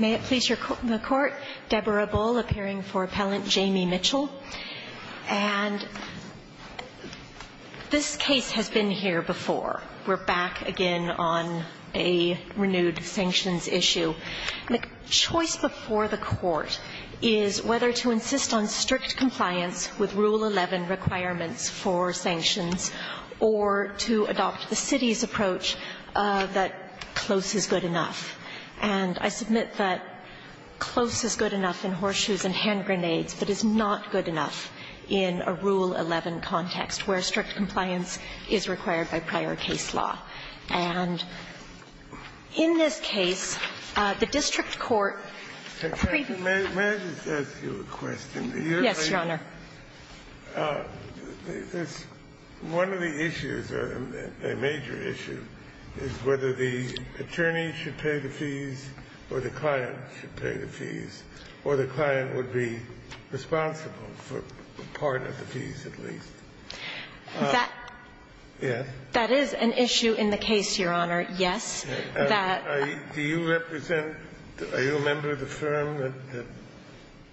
May it please the Court, Deborah Bull appearing for Appellant Jamie Mitchell. And this case has been here before. We're back again on a renewed sanctions issue. The choice before the Court is whether to insist on strict compliance with Rule 11 requirements for sanctions or to adopt the city's approach that close is good enough. And I submit that close is good enough in horseshoes and hand grenades, but is not good enough in a Rule 11 context, where strict compliance is required by prior case law. And in this case, the district court agreed to do that. One of the issues, a major issue, is whether the attorney should pay the fees or the client should pay the fees, or the client would be responsible for part of the fees, at least. That is an issue in the case, Your Honor, yes. Do you represent, are you a member of the firm that?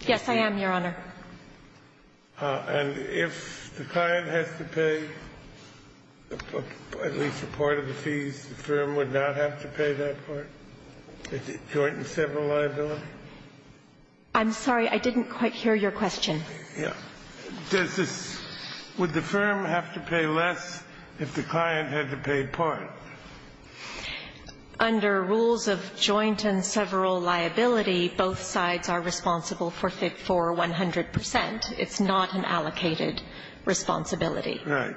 Yes, I am, Your Honor. And if the client has to pay at least a part of the fees, the firm would not have to pay that part, the joint and several liability? I'm sorry, I didn't quite hear your question. Yeah. Does this – would the firm have to pay less if the client had to pay part? Under rules of joint and several liability, both sides are responsible for 100 percent. It's not an allocated responsibility. Right.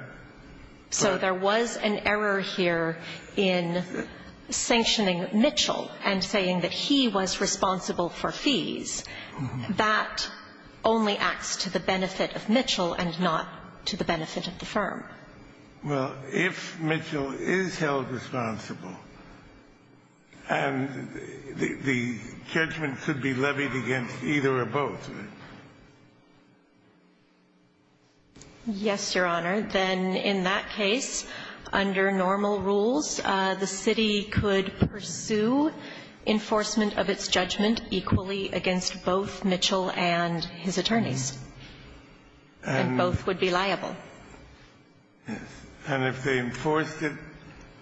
So there was an error here in sanctioning Mitchell and saying that he was responsible for fees. That only acts to the benefit of Mitchell and not to the benefit of the firm. Well, if Mitchell is held responsible, and the judgment should be levied against either or both of them. Yes, Your Honor. Then in that case, under normal rules, the city could pursue enforcement of its judgment equally against both Mitchell and his attorneys, and both would be liable. Yes. And if they enforced it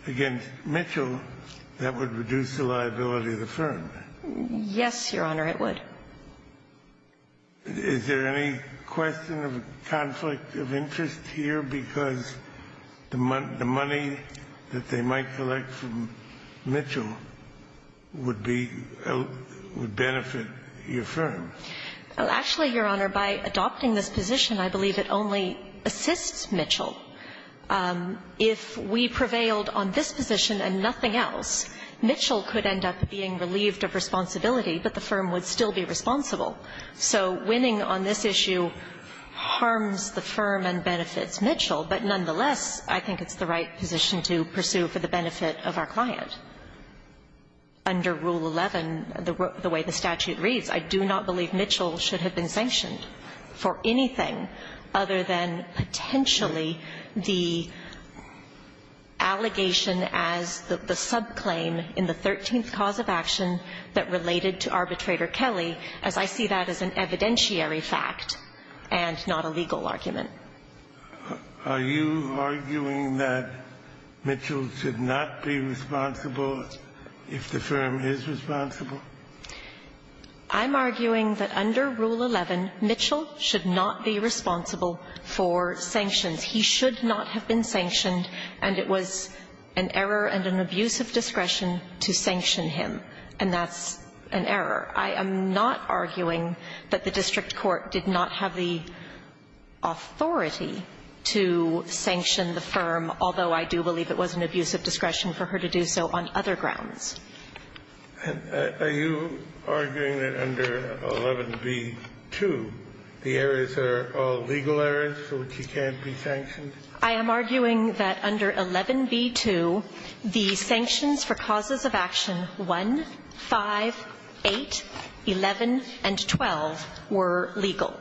against Mitchell, that would reduce the liability of the firm? Yes, Your Honor, it would. Is there any question of conflict of interest here because the money that they might collect from Mitchell would be – would benefit your firm? Actually, Your Honor, by adopting this position, I believe it only assists Mitchell. If we prevailed on this position and nothing else, Mitchell could end up being relieved of responsibility, but the firm would still be responsible. So winning on this issue harms the firm and benefits Mitchell, but nonetheless, I think it's the right position to pursue for the benefit of our client. Under Rule 11, the way the statute reads, I do not believe Mitchell should have been sanctioned for anything other than potentially the allegation as the subclaim in the 13th cause of action that related to Arbitrator Kelly, as I see that as an evidentiary fact and not a legal argument. Are you arguing that Mitchell should not be responsible if the firm is responsible? I'm arguing that under Rule 11, Mitchell should not be responsible for sanctions. He should not have been sanctioned, and it was an error and an abuse of discretion to sanction him, and that's an error. I am not arguing that the district court did not have the authority to sanction the firm, although I do believe it was an abuse of discretion for her to do so on other grounds. Are you arguing that under 11b-2, the errors are all legal errors for which he can't be sanctioned? I am arguing that under 11b-2, the sanctions for causes of action 1, 5, 8, 11, and 12 were legal,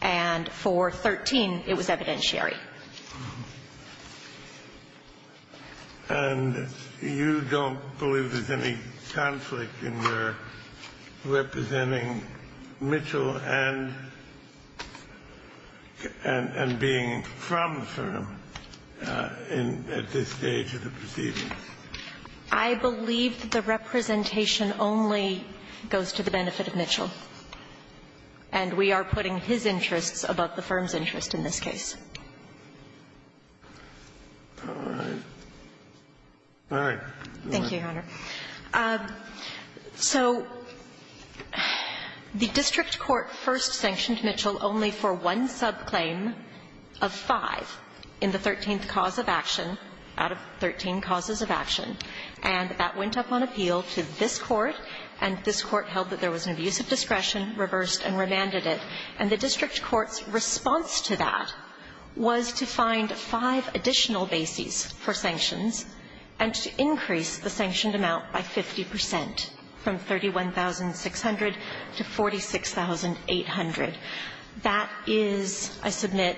and for 13, it was evidentiary. And you don't believe there's any conflict in your representing Mitchell and being from the firm at this stage of the proceedings? I believe that the representation only goes to the benefit of Mitchell, and we are putting his interests above the firm's interest in this case. All right. All right. Thank you, Your Honor. So the district court first sanctioned Mitchell only for one subclaim of 5 in the 13th cause of action, out of 13 causes of action, and that went up on appeal to this court, and this court held that there was an abuse of discretion, reversed, and remanded it. And the district court's response to that was to find five additional bases for sanctions and to increase the sanctioned amount by 50 percent from 31,600 to 46,800. That is, I submit,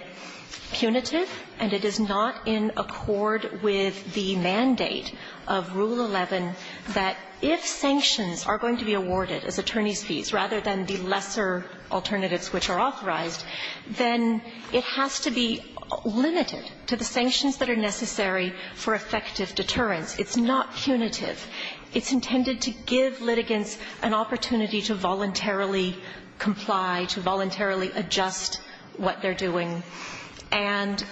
punitive, and it is not in accord with the mandate of Rule 11 that if sanctions are going to be awarded as attorney's fees rather than the lesser alternatives which are authorized, then it has to be limited to the sanctions that are necessary for effective deterrence. It's not punitive. It's intended to give litigants an opportunity to voluntarily comply, to voluntarily adjust what they're doing. And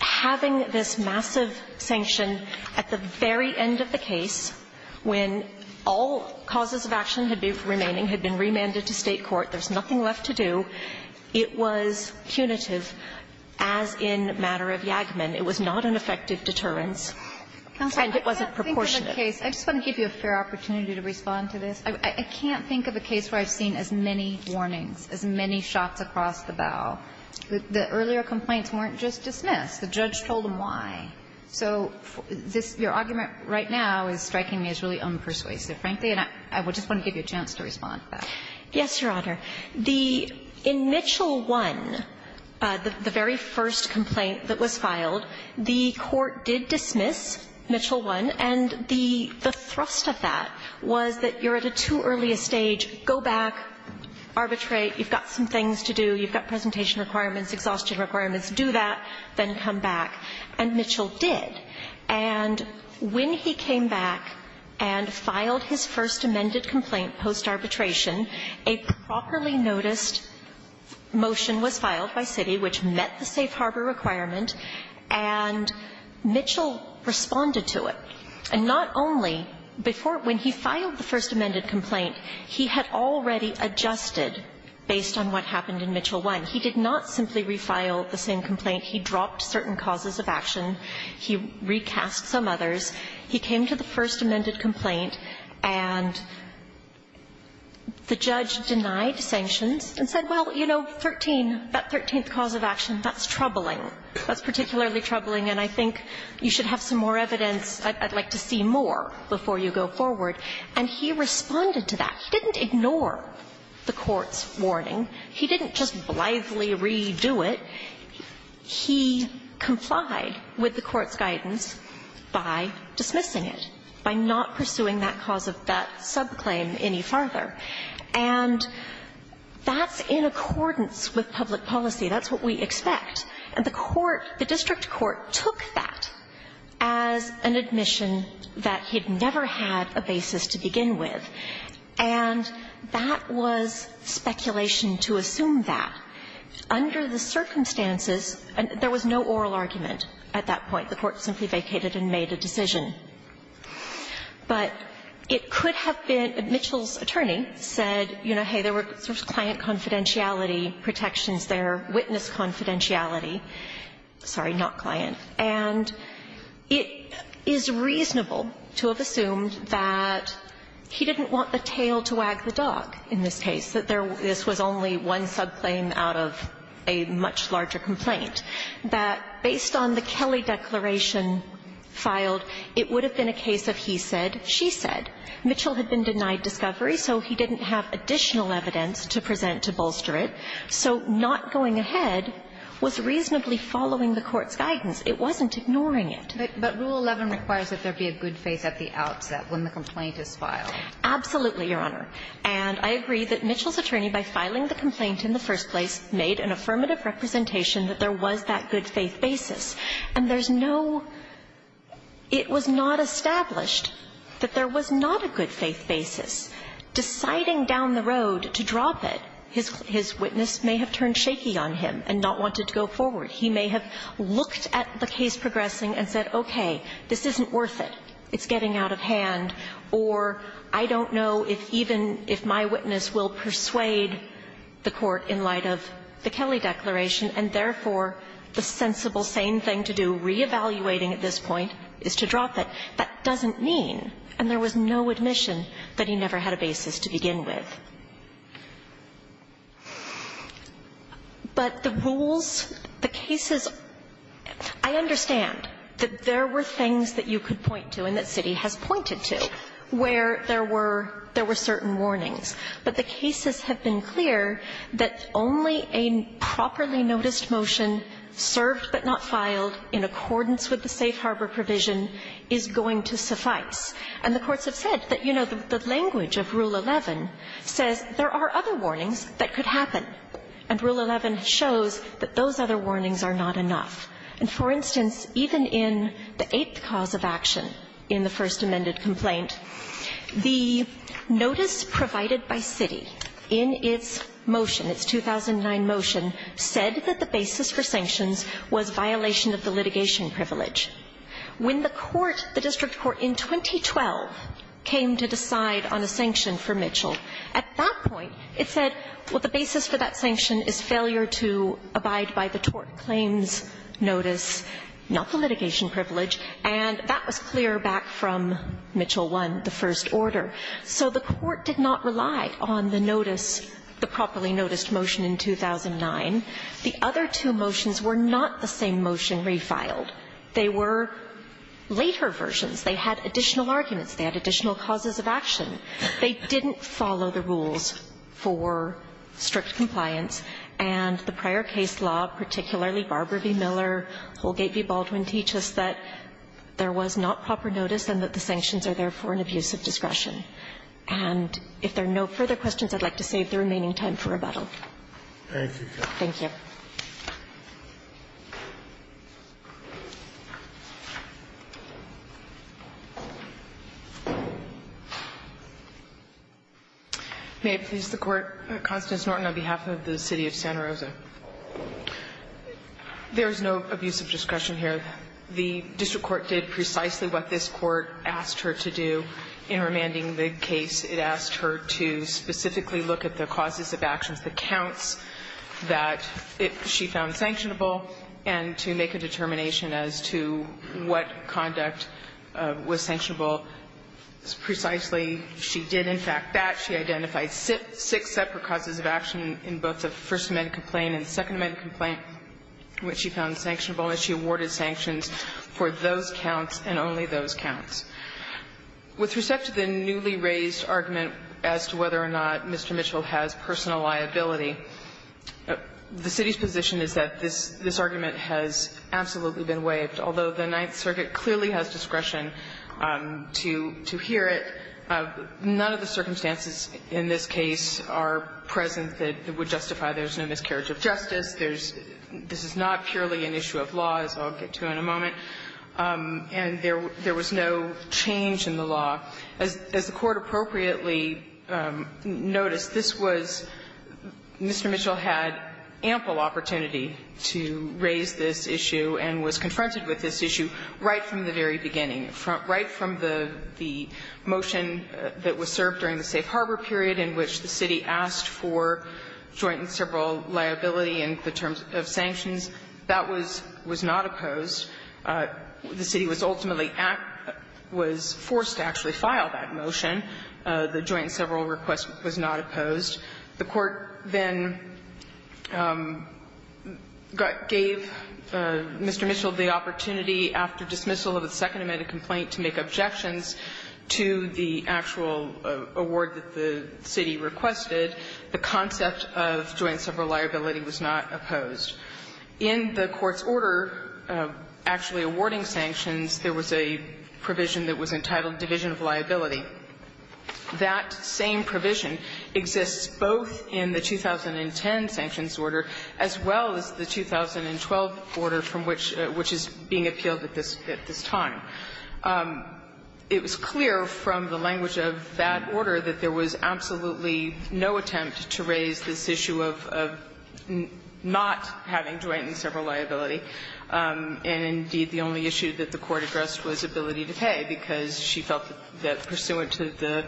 having this massive sanction at the very end of the case, when all causes of action had been remaining, had been remanded to State court, there's nothing left to do, it was punitive, as in the matter of Yaghman. It was not an effective deterrence, and it wasn't proportionate. Kagan I just want to give you a fair opportunity to respond to this. I can't think of a case where I've seen as many warnings, as many shots across the bow. The earlier complaints weren't just dismissed. The judge told them why. So this, your argument right now is striking me as really unpersuasive, frankly, and I just want to give you a chance to respond to that. Yes, Your Honor. The – in Mitchell I, the very first complaint that was filed, the court did dismiss Mitchell I, and the thrust of that was that you're at a too early a stage, go back, arbitrate, you've got some things to do, you've got presentation requirements, exhaustion requirements, do that, then come back. And Mitchell did. And when he came back and filed his first amended complaint post-arbitration, a properly noticed motion was filed by city, which met the safe harbor requirement, and Mitchell responded to it. And not only before – when he filed the first amended complaint, he had already adjusted based on what happened in Mitchell I. He did not simply refile the same complaint. He dropped certain causes of action. He recast some others. He came to the first amended complaint, and the judge denied sanctions and said, well, you know, 13, that 13th cause of action, that's troubling. That's particularly troubling, and I think you should have some more evidence. I'd like to see more before you go forward. And he responded to that. He didn't ignore the court's warning. He didn't just blithely redo it. He complied with the court's guidance by dismissing it, by not pursuing that cause of that subclaim any farther. And that's in accordance with public policy. That's what we expect. And the court, the district court, took that as an admission that he'd never had a basis to begin with. And that was speculation to assume that. Under the circumstances, there was no oral argument at that point. The court simply vacated and made a decision. But it could have been that Mitchell's attorney said, you know, hey, there were client confidentiality protections there, witness confidentiality, sorry, not client. And it is reasonable to have assumed that he didn't want the tail to wag the dog in this case, that this was only one subclaim out of a much larger complaint, that based on the Kelley declaration filed, it would have been a case of he said, she said. Mitchell had been denied discovery, so he didn't have additional evidence to present to bolster it. So not going ahead was reasonably following the court's guidance. It wasn't ignoring it. But Rule 11 requires that there be a good face at the outset when the complaint is filed. Absolutely, Your Honor. And I agree that Mitchell's attorney, by filing the complaint in the first place, made an affirmative representation that there was that good faith basis. And there's no – it was not established that there was not a good faith basis. Deciding down the road to drop it, his witness may have turned shaky on him and not wanted to go forward. He may have looked at the case progressing and said, okay, this isn't worth it. It's getting out of hand. Or I don't know if even if my witness will persuade the court in light of the Kelley declaration, and therefore, the sensible sane thing to do, reevaluating at this point, is to drop it. That doesn't mean, and there was no admission, that he never had a basis to begin with. But the rules, the cases, I understand that there were things that you could point to and that Citi has pointed to where there were certain warnings. But the cases have been clear that only a properly noticed motion, served but not filed in accordance with the safe harbor provision, is going to suffice. And the courts have said that, you know, the language of Rule 11 says there are other warnings that could happen. And Rule 11 shows that those other warnings are not enough. And for instance, even in the eighth cause of action in the First Amended complaint, the notice provided by Citi in its motion, its 2009 motion, said that the basis for sanctions was violation of the litigation privilege. When the court, the district court in 2012, came to decide on a sanction for Mitchell, at that point it said, well, the basis for that sanction is failure to abide by the court claims notice, not the litigation privilege. And that was clear back from Mitchell 1, the first order. So the court did not rely on the notice, the properly noticed motion in 2009. The other two motions were not the same motion refiled. They were later versions. They had additional arguments. They had additional causes of action. They didn't follow the rules for strict compliance. And the prior case law, particularly Barber v. Miller, Holgate v. Baldwin, teach us that there was not proper notice and that the sanctions are therefore an abuse of discretion. And if there are no further questions, I'd like to save the remaining time for rebuttal. Thank you, Your Honor. Thank you. May it please the Court, Constance Norton, on behalf of the City of Santa Rosa. There is no abuse of discretion here. The district court did precisely what this court asked her to do in remanding the case. It asked her to specifically look at the causes of actions, the counts that she found sanctionable, and to make a determination as to what conduct was sanctionable. Precisely, she did in fact that. She identified six separate causes of action in both the First Amendment complaint and Second Amendment complaint which she found sanctionable, and she awarded sanctions for those counts and only those counts. With respect to the newly raised argument as to whether or not Mr. Mitchell has personal liability, the City's position is that this argument has absolutely been waived, although the Ninth Circuit clearly has discretion to hear it. None of the circumstances in this case are present that would justify there's no miscarriage of justice. There's not purely an issue of law, as I'll get to in a moment, and there was no change in the law. As the Court appropriately noticed, this was Mr. Mitchell had ample opportunity to raise this issue and was confronted with this issue right from the very beginning, right from the motion that was served during the safe harbor period in which the City asked for joint and several liability in the terms of sanctions. That was not opposed. The City was ultimately act was forced to actually file that motion. The joint and several request was not opposed. The Court then gave Mr. Mitchell the opportunity after dismissal of the Second Amendment complaint to make objections to the actual award that the City requested. The concept of joint and several liability was not opposed. In the Court's order actually awarding sanctions, there was a provision that was entitled division of liability. That same provision exists both in the 2010 sanctions order as well as the 2012 order from which the order is being appealed at this time. It was clear from the language of that order that there was absolutely no attempt to raise this issue of not having joint and several liability. And indeed, the only issue that the Court addressed was ability to pay, because she felt that, pursuant to the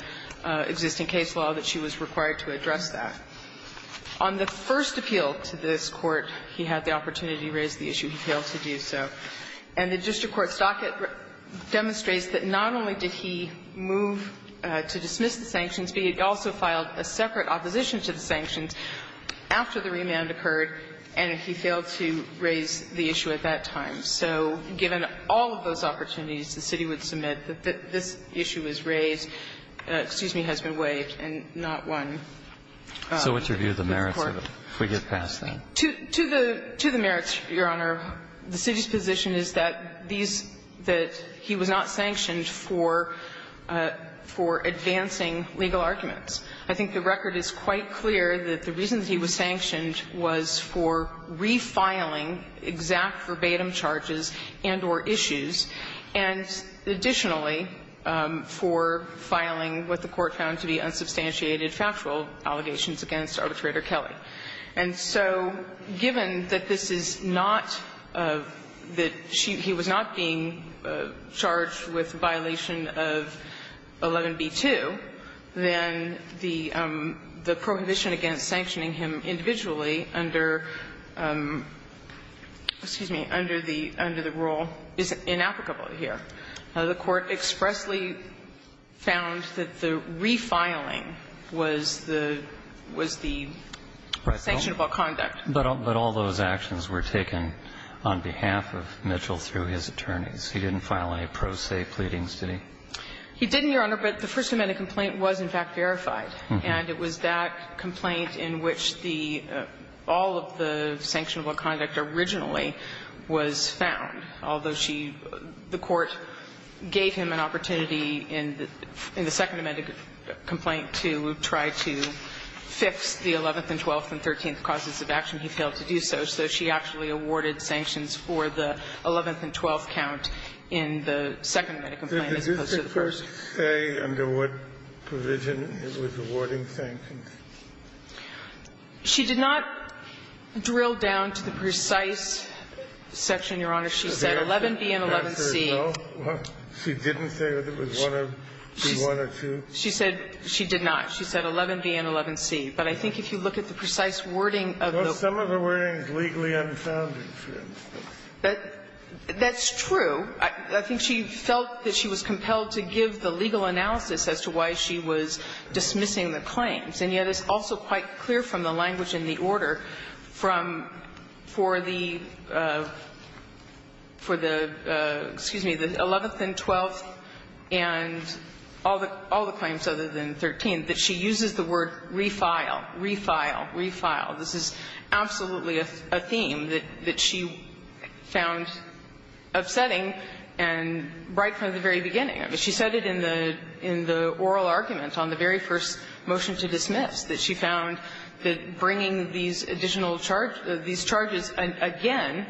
existing case law, that she was required to address that. On the first appeal to this Court, he had the opportunity to raise the issue. He failed to do so. And the district court's docket demonstrates that not only did he move to dismiss the sanctions, but he also filed a separate opposition to the sanctions after the remand occurred, and he failed to raise the issue at that time. So given all of those opportunities, the City would submit that this issue was raised – excuse me, has been waived and not won. So what's your view of the merits of it, if we get past that? To the merits, Your Honor, the City's position is that these – that he was not sanctioned for advancing legal arguments. I think the record is quite clear that the reason that he was sanctioned was for refiling exact verbatim charges and or issues, and additionally, for filing what the Court found to be unsubstantiated factual allegations against Arbitrator Kelley. And so given that this is not – that he was not being charged with violations of Section 11B-2, then the – the prohibition against sanctioning him individually under – excuse me, under the – under the rule is inapplicable here. The Court expressly found that the refiling was the – was the sanctionable conduct. But all those actions were taken on behalf of Mitchell through his attorneys. He didn't file any pro se pleadings, did he? He didn't, Your Honor, but the First Amendment complaint was, in fact, verified. And it was that complaint in which the – all of the sanctionable conduct originally was found, although she – the Court gave him an opportunity in the – in the Second Amendment complaint to try to fix the 11th and 12th and 13th causes of action. He failed to do so. So she actually awarded sanctions for the 11th and 12th count in the Second Amendment complaint as opposed to the first. Kennedy, did the Court say under what provision it was awarding sanctions? She did not drill down to the precise section, Your Honor. She said 11B and 11C. She didn't say that it was one of – be one or two? She said – she did not. She said 11B and 11C. But I think if you look at the precise wording of the – Some of the wording is legally unfounded, Your Honor. That's true. I think she felt that she was compelled to give the legal analysis as to why she was dismissing the claims. And yet it's also quite clear from the language in the order from – for the – for the – excuse me, the 11th and 12th and all the claims other than 13th that she uses the word refile, refile, refile. This is absolutely a theme that she found upsetting and right from the very beginning. I mean, she said it in the – in the oral argument on the very first motion to dismiss, that she found that bringing these additional charge – these charges again,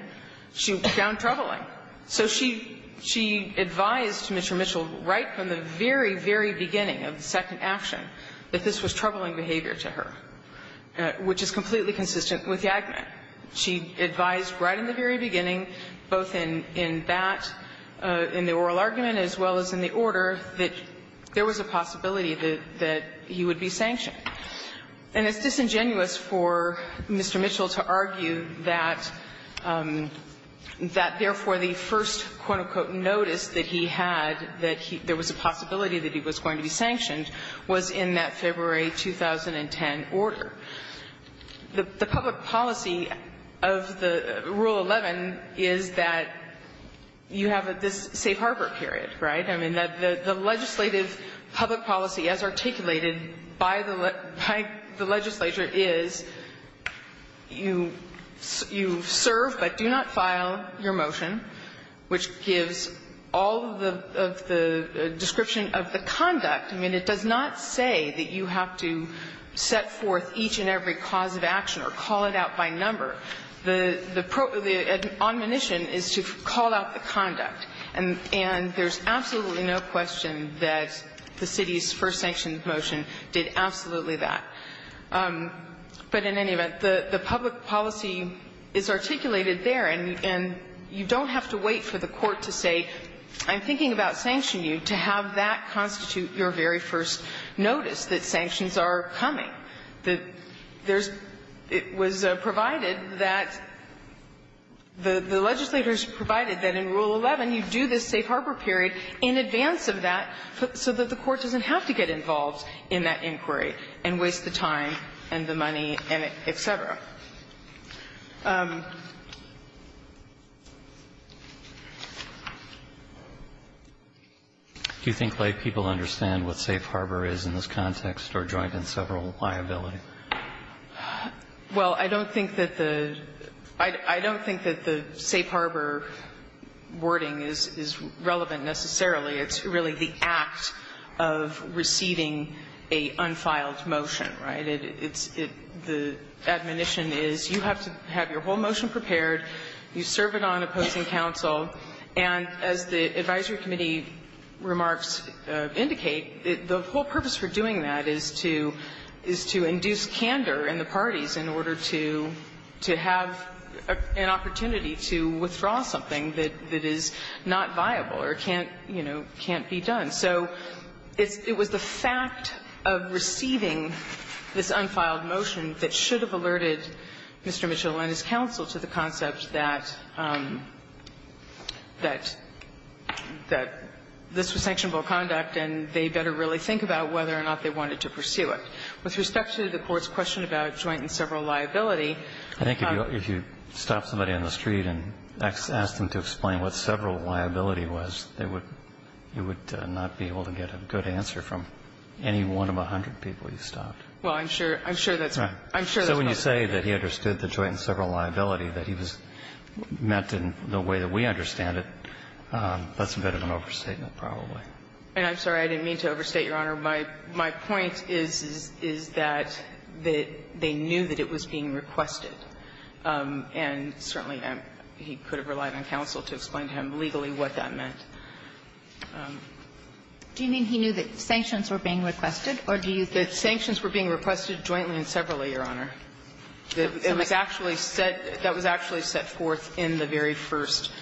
she found troubling. So she – she advised Mr. Mitchell right from the very, very beginning of the second action that this was troubling behavior to her, which is completely consistent with Yagman. She advised right in the very beginning, both in – in that – in the oral argument as well as in the order, that there was a possibility that – that he would be sanctioned. And it's disingenuous for Mr. Mitchell to argue that – that therefore the first, quote, unquote, notice that he had that he – there was a possibility that he was going to be sanctioned was in that February 2010 order. The public policy of the Rule 11 is that you have this safe harbor period, right? I mean, the legislative public policy as articulated by the – by the legislature is you – you serve but do not file your motion, which gives all of the – of the prescription of the conduct. I mean, it does not say that you have to set forth each and every cause of action or call it out by number. The – the – the admonition is to call out the conduct. And – and there's absolutely no question that the city's first sanctioned motion did absolutely that. But in any event, the – the public policy is articulated there, and – and you don't have to wait for the court to say, I'm thinking about sanctioning you, to have that constitute your very first notice that sanctions are coming, that there's – it was provided that the – the legislators provided that in Rule 11 you do this safe harbor period in advance of that so that the court doesn't have to get involved in that inquiry and waste the time and the money and et cetera. Do you think laypeople understand what safe harbor is in this context, or joint and several liability? Well, I don't think that the – I don't think that the safe harbor wording is – is relevant necessarily. It's really the act of receiving a unfiled motion, right? And it's – it – the admonition is you have to have your whole motion prepared, you serve it on opposing counsel, and as the advisory committee remarks indicate, the whole purpose for doing that is to – is to induce candor in the parties in order to – to have an opportunity to withdraw something that – that is not viable or can't, you know, can't be done. So it's – it was the fact of receiving this unfiled motion that should have alerted Mr. Mitchell and his counsel to the concept that – that – that this was sanctionable conduct and they better really think about whether or not they wanted to pursue it. With respect to the court's question about joint and several liability, I think if you – if you stopped somebody on the street and asked them to explain what several liability was, they would – you would not be able to get a good answer from any one of a hundred people you stopped. Well, I'm sure – I'm sure that's – I'm sure that's not the case. Right. So when you say that he understood the joint and several liability, that he was – meant in the way that we understand it, that's a bit of an overstatement probably. And I'm sorry. I didn't mean to overstate, Your Honor. My – my point is – is that they knew that it was being requested, and certainly he could have relied on counsel to explain to him legally what that meant. Do you mean he knew that sanctions were being requested, or do you think that sanctions were being requested jointly and separately, Your Honor? That was actually set – that was actually set forth in the very first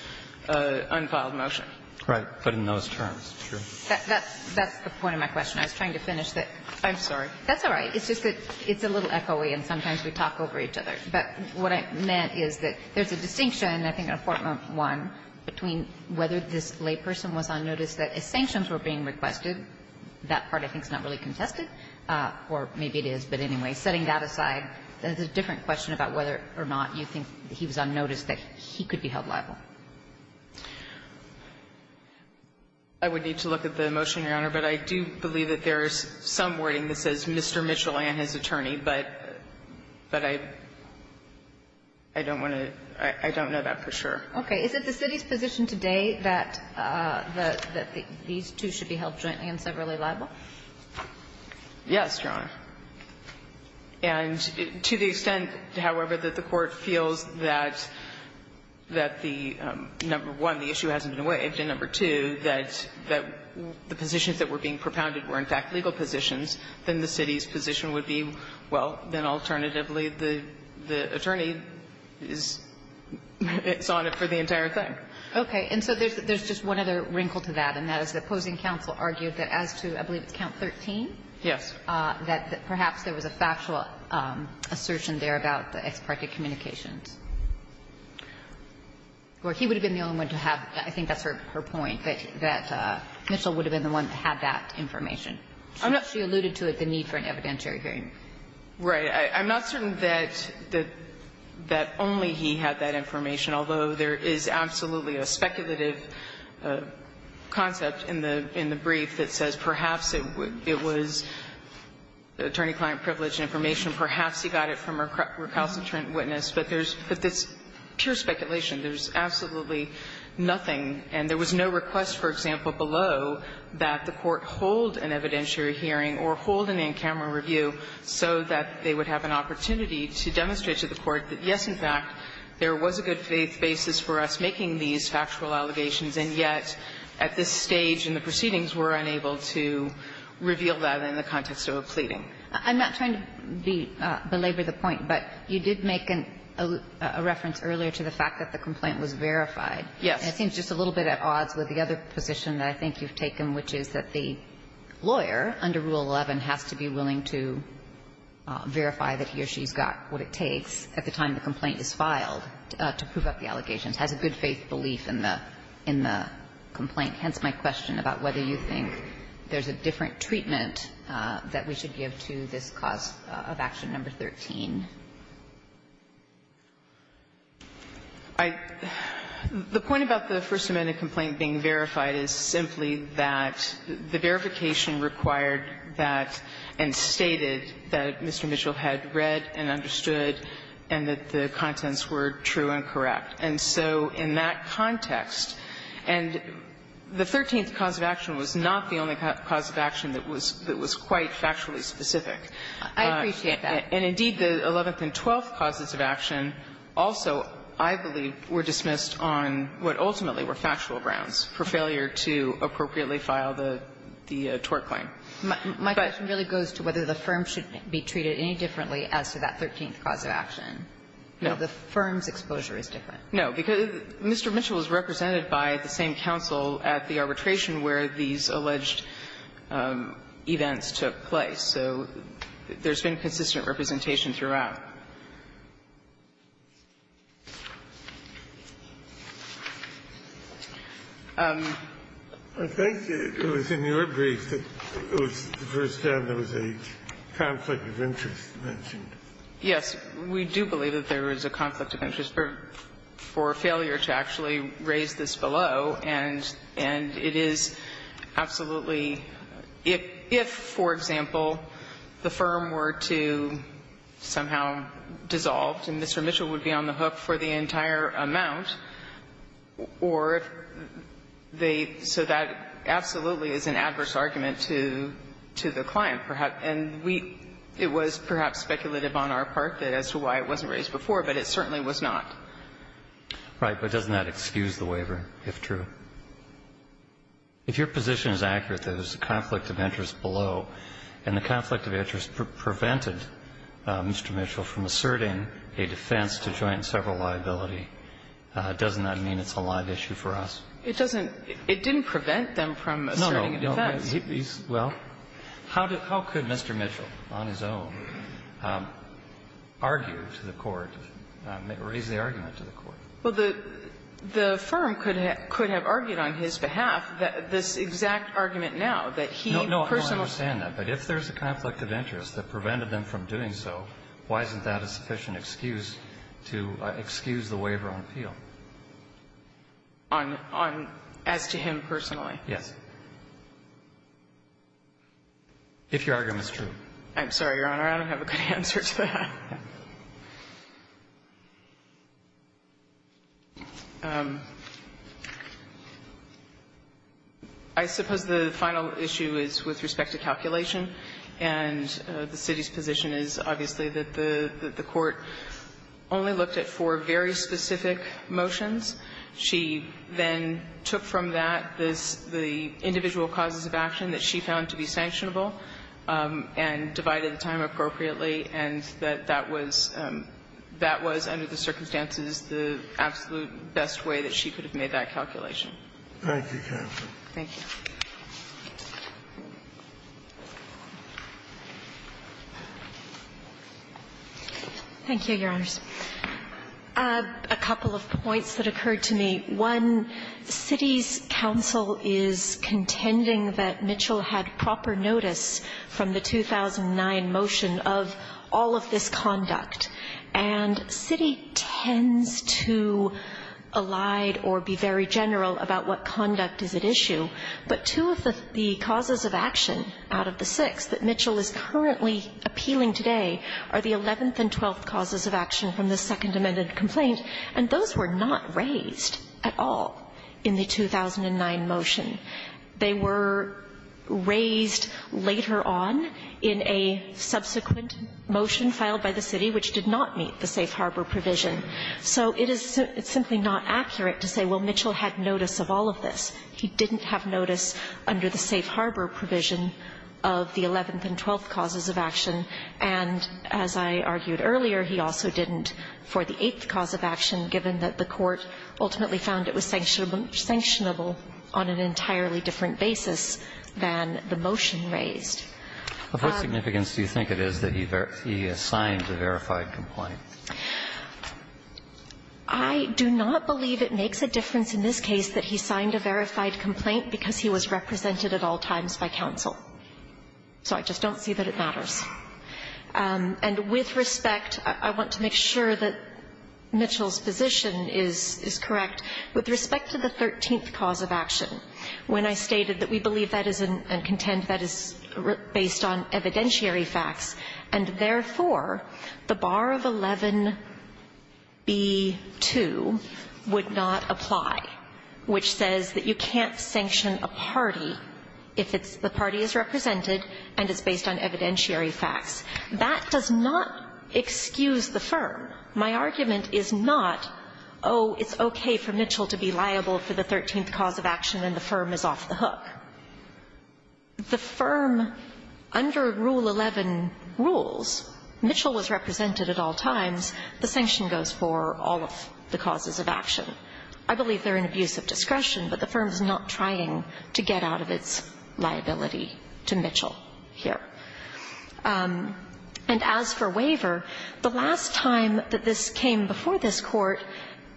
unfiled motion. Right. But in those terms, sure. That's – that's the point of my question. I was trying to finish the – I'm sorry. That's all right. It's just that it's a little echoey and sometimes we talk over each other. But what I meant is that there's a distinction, I think, in Apportment 1, between whether this layperson was on notice that if sanctions were being requested – that part I think is not really contested, or maybe it is, but anyway – setting that aside, there's a different question about whether or not you think he was on notice that he could be held liable. I would need to look at the motion, Your Honor, but I do believe that there is some I don't want to – I don't know that for sure. Okay. Is it the City's position today that these two should be held jointly and separately liable? Yes, Your Honor. And to the extent, however, that the Court feels that the – number one, the issue hasn't been waived, and number two, that the positions that were being propounded were, in fact, legal positions, then the City's position would be, well, then alternatively, the attorney is on it for the entire thing. Okay. And so there's just one other wrinkle to that, and that is the opposing counsel argued that as to, I believe it's count 13? Yes. That perhaps there was a factual assertion there about the ex parte communications. Or he would have been the only one to have – I think that's her point, that Mitchell would have been the one that had that information. I'm not – She alluded to it, the need for an evidentiary hearing. Right. I'm not certain that only he had that information, although there is absolutely a speculative concept in the brief that says perhaps it was attorney-client privilege and information, perhaps he got it from a recalcitrant witness. But there's – but it's pure speculation. There's absolutely nothing. And there was no request, for example, below that the Court hold an evidentiary hearing or hold an in-camera review so that they would have an opportunity to demonstrate to the Court that, yes, in fact, there was a good faith basis for us making these factual allegations, and yet at this stage in the proceedings we're unable to reveal that in the context of a pleading. I'm not trying to belabor the point, but you did make a reference earlier to the fact that the complaint was verified. Yes. It seems just a little bit at odds with the other position that I think you've taken, which is that the lawyer under Rule 11 has to be willing to verify that he or she's got what it takes at the time the complaint is filed to prove up the allegations, has a good faith belief in the complaint. Hence my question about whether you think there's a different treatment that we should give to this cause of action number 13. I think the point about the First Amendment complaint being verified is simply that the verification required that and stated that Mr. Mitchell had read and understood and that the contents were true and correct. And so in that context, and the 13th cause of action was not the only cause of action that was quite factually specific. I appreciate that. And indeed, the 11th and 12th causes of action also, I believe, were dismissed on what ultimately were factual grounds for failure to appropriately file the tort claim. But the question really goes to whether the firm should be treated any differently as to that 13th cause of action. No. The firm's exposure is different. No, because Mr. Mitchell is represented by the same counsel at the arbitration where these alleged events took place. So there's been consistent representation throughout. I think it was in your brief that it was the first time there was a conflict of interest mentioned. Yes. We do believe that there is a conflict of interest for failure to actually raise this below. And it is absolutely – if, for example, the firm were to somehow dissolve, and Mr. Mitchell would be on the hook for the entire amount, or they – so that absolutely is an adverse argument to the client. And we – it was perhaps speculative on our part as to why it wasn't raised before, but it certainly was not. Right. But doesn't that excuse the waiver, if true? If your position is accurate that there's a conflict of interest below, and the conflict of interest prevented Mr. Mitchell from asserting a defense to joint and several liability, doesn't that mean it's a live issue for us? It doesn't – it didn't prevent them from asserting a defense. No, no. Well, how could Mr. Mitchell, on his own, argue to the court, raise the argument to the court? Well, the firm could have argued on his behalf this exact argument now, that he personally No, I don't understand that. But if there's a conflict of interest that prevented them from doing so, why isn't that a sufficient excuse to excuse the waiver on appeal? On – as to him personally? Yes, if your argument is true. I'm sorry, Your Honor. I don't have a good answer to that. I suppose the final issue is with respect to calculation, and the city's position is, obviously, that the court only looked at four very specific motions. She then took from that this – the individual causes of action that she found to be that was – that was, under the circumstances, the absolute best way that she could have made that calculation. Thank you, counsel. Thank you. Thank you, Your Honors. A couple of points that occurred to me. One, the city's counsel is contending that Mitchell had proper notice from the 2009 motion of all of this conduct, and city tends to allied or be very general about what conduct is at issue. But two of the causes of action out of the six that Mitchell is currently appealing today are the 11th and 12th causes of action from the Second Amendment complaint, and those were not raised at all in the 2009 motion. They were raised later on in a subsequent motion filed by the city which did not meet the safe harbor provision. So it is simply not accurate to say, well, Mitchell had notice of all of this. He didn't have notice under the safe harbor provision of the 11th and 12th causes of action, and as I argued earlier, he also didn't for the eighth cause of action, given that the court ultimately found it was sanctionable on an entirely different basis than the motion raised. Of what significance do you think it is that he assigned a verified complaint? I do not believe it makes a difference in this case that he signed a verified complaint because he was represented at all times by counsel. So I just don't see that it matters. And with respect, I want to make sure that Mitchell's position is correct. With respect to the 13th cause of action, when I stated that we believe that is a contend that is based on evidentiary facts, and therefore, the bar of 11b-2 would not apply, which says that you can't sanction a party if it's the party is represented and it's based on evidentiary facts. That does not excuse the firm. My argument is not, oh, it's okay for Mitchell to be liable for the 13th cause of action and the firm is off the hook. The firm, under Rule 11 rules, Mitchell was represented at all times. The sanction goes for all of the causes of action. I believe they're an abuse of discretion, but the firm is not trying to get out of its liability to Mitchell here. And as for waiver, the last time that this came before this Court,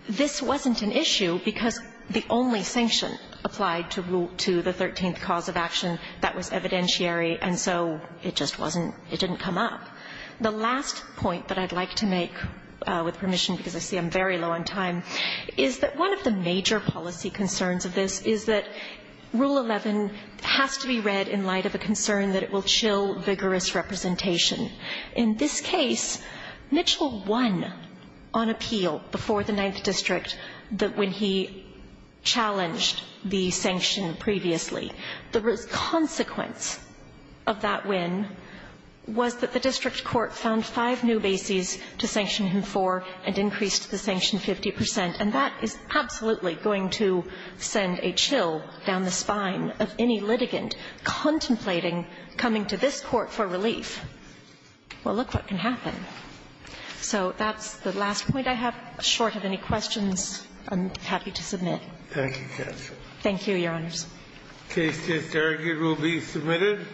this wasn't an issue because the only sanction applied to Rule 2, the 13th cause of action, that was evidentiary, and so it just wasn't – it didn't come up. The last point that I'd like to make, with permission, because I see I'm very low on time, is that one of the major policy concerns of this is that Rule 11 has to be read in light of a concern that it will chill vigorous representation. In this case, Mitchell won on appeal before the Ninth District when he challenged the sanction previously. The consequence of that win was that the district court found five new bases to sanction him for and increased the sanction 50 percent. And that is absolutely going to send a chill down the spine of any litigant contemplating coming to this Court for relief. Well, look what can happen. So that's the last point I have. Short of any questions, I'm happy to submit. Thank you, counsel. Thank you, Your Honors. The case is argued. It will be submitted.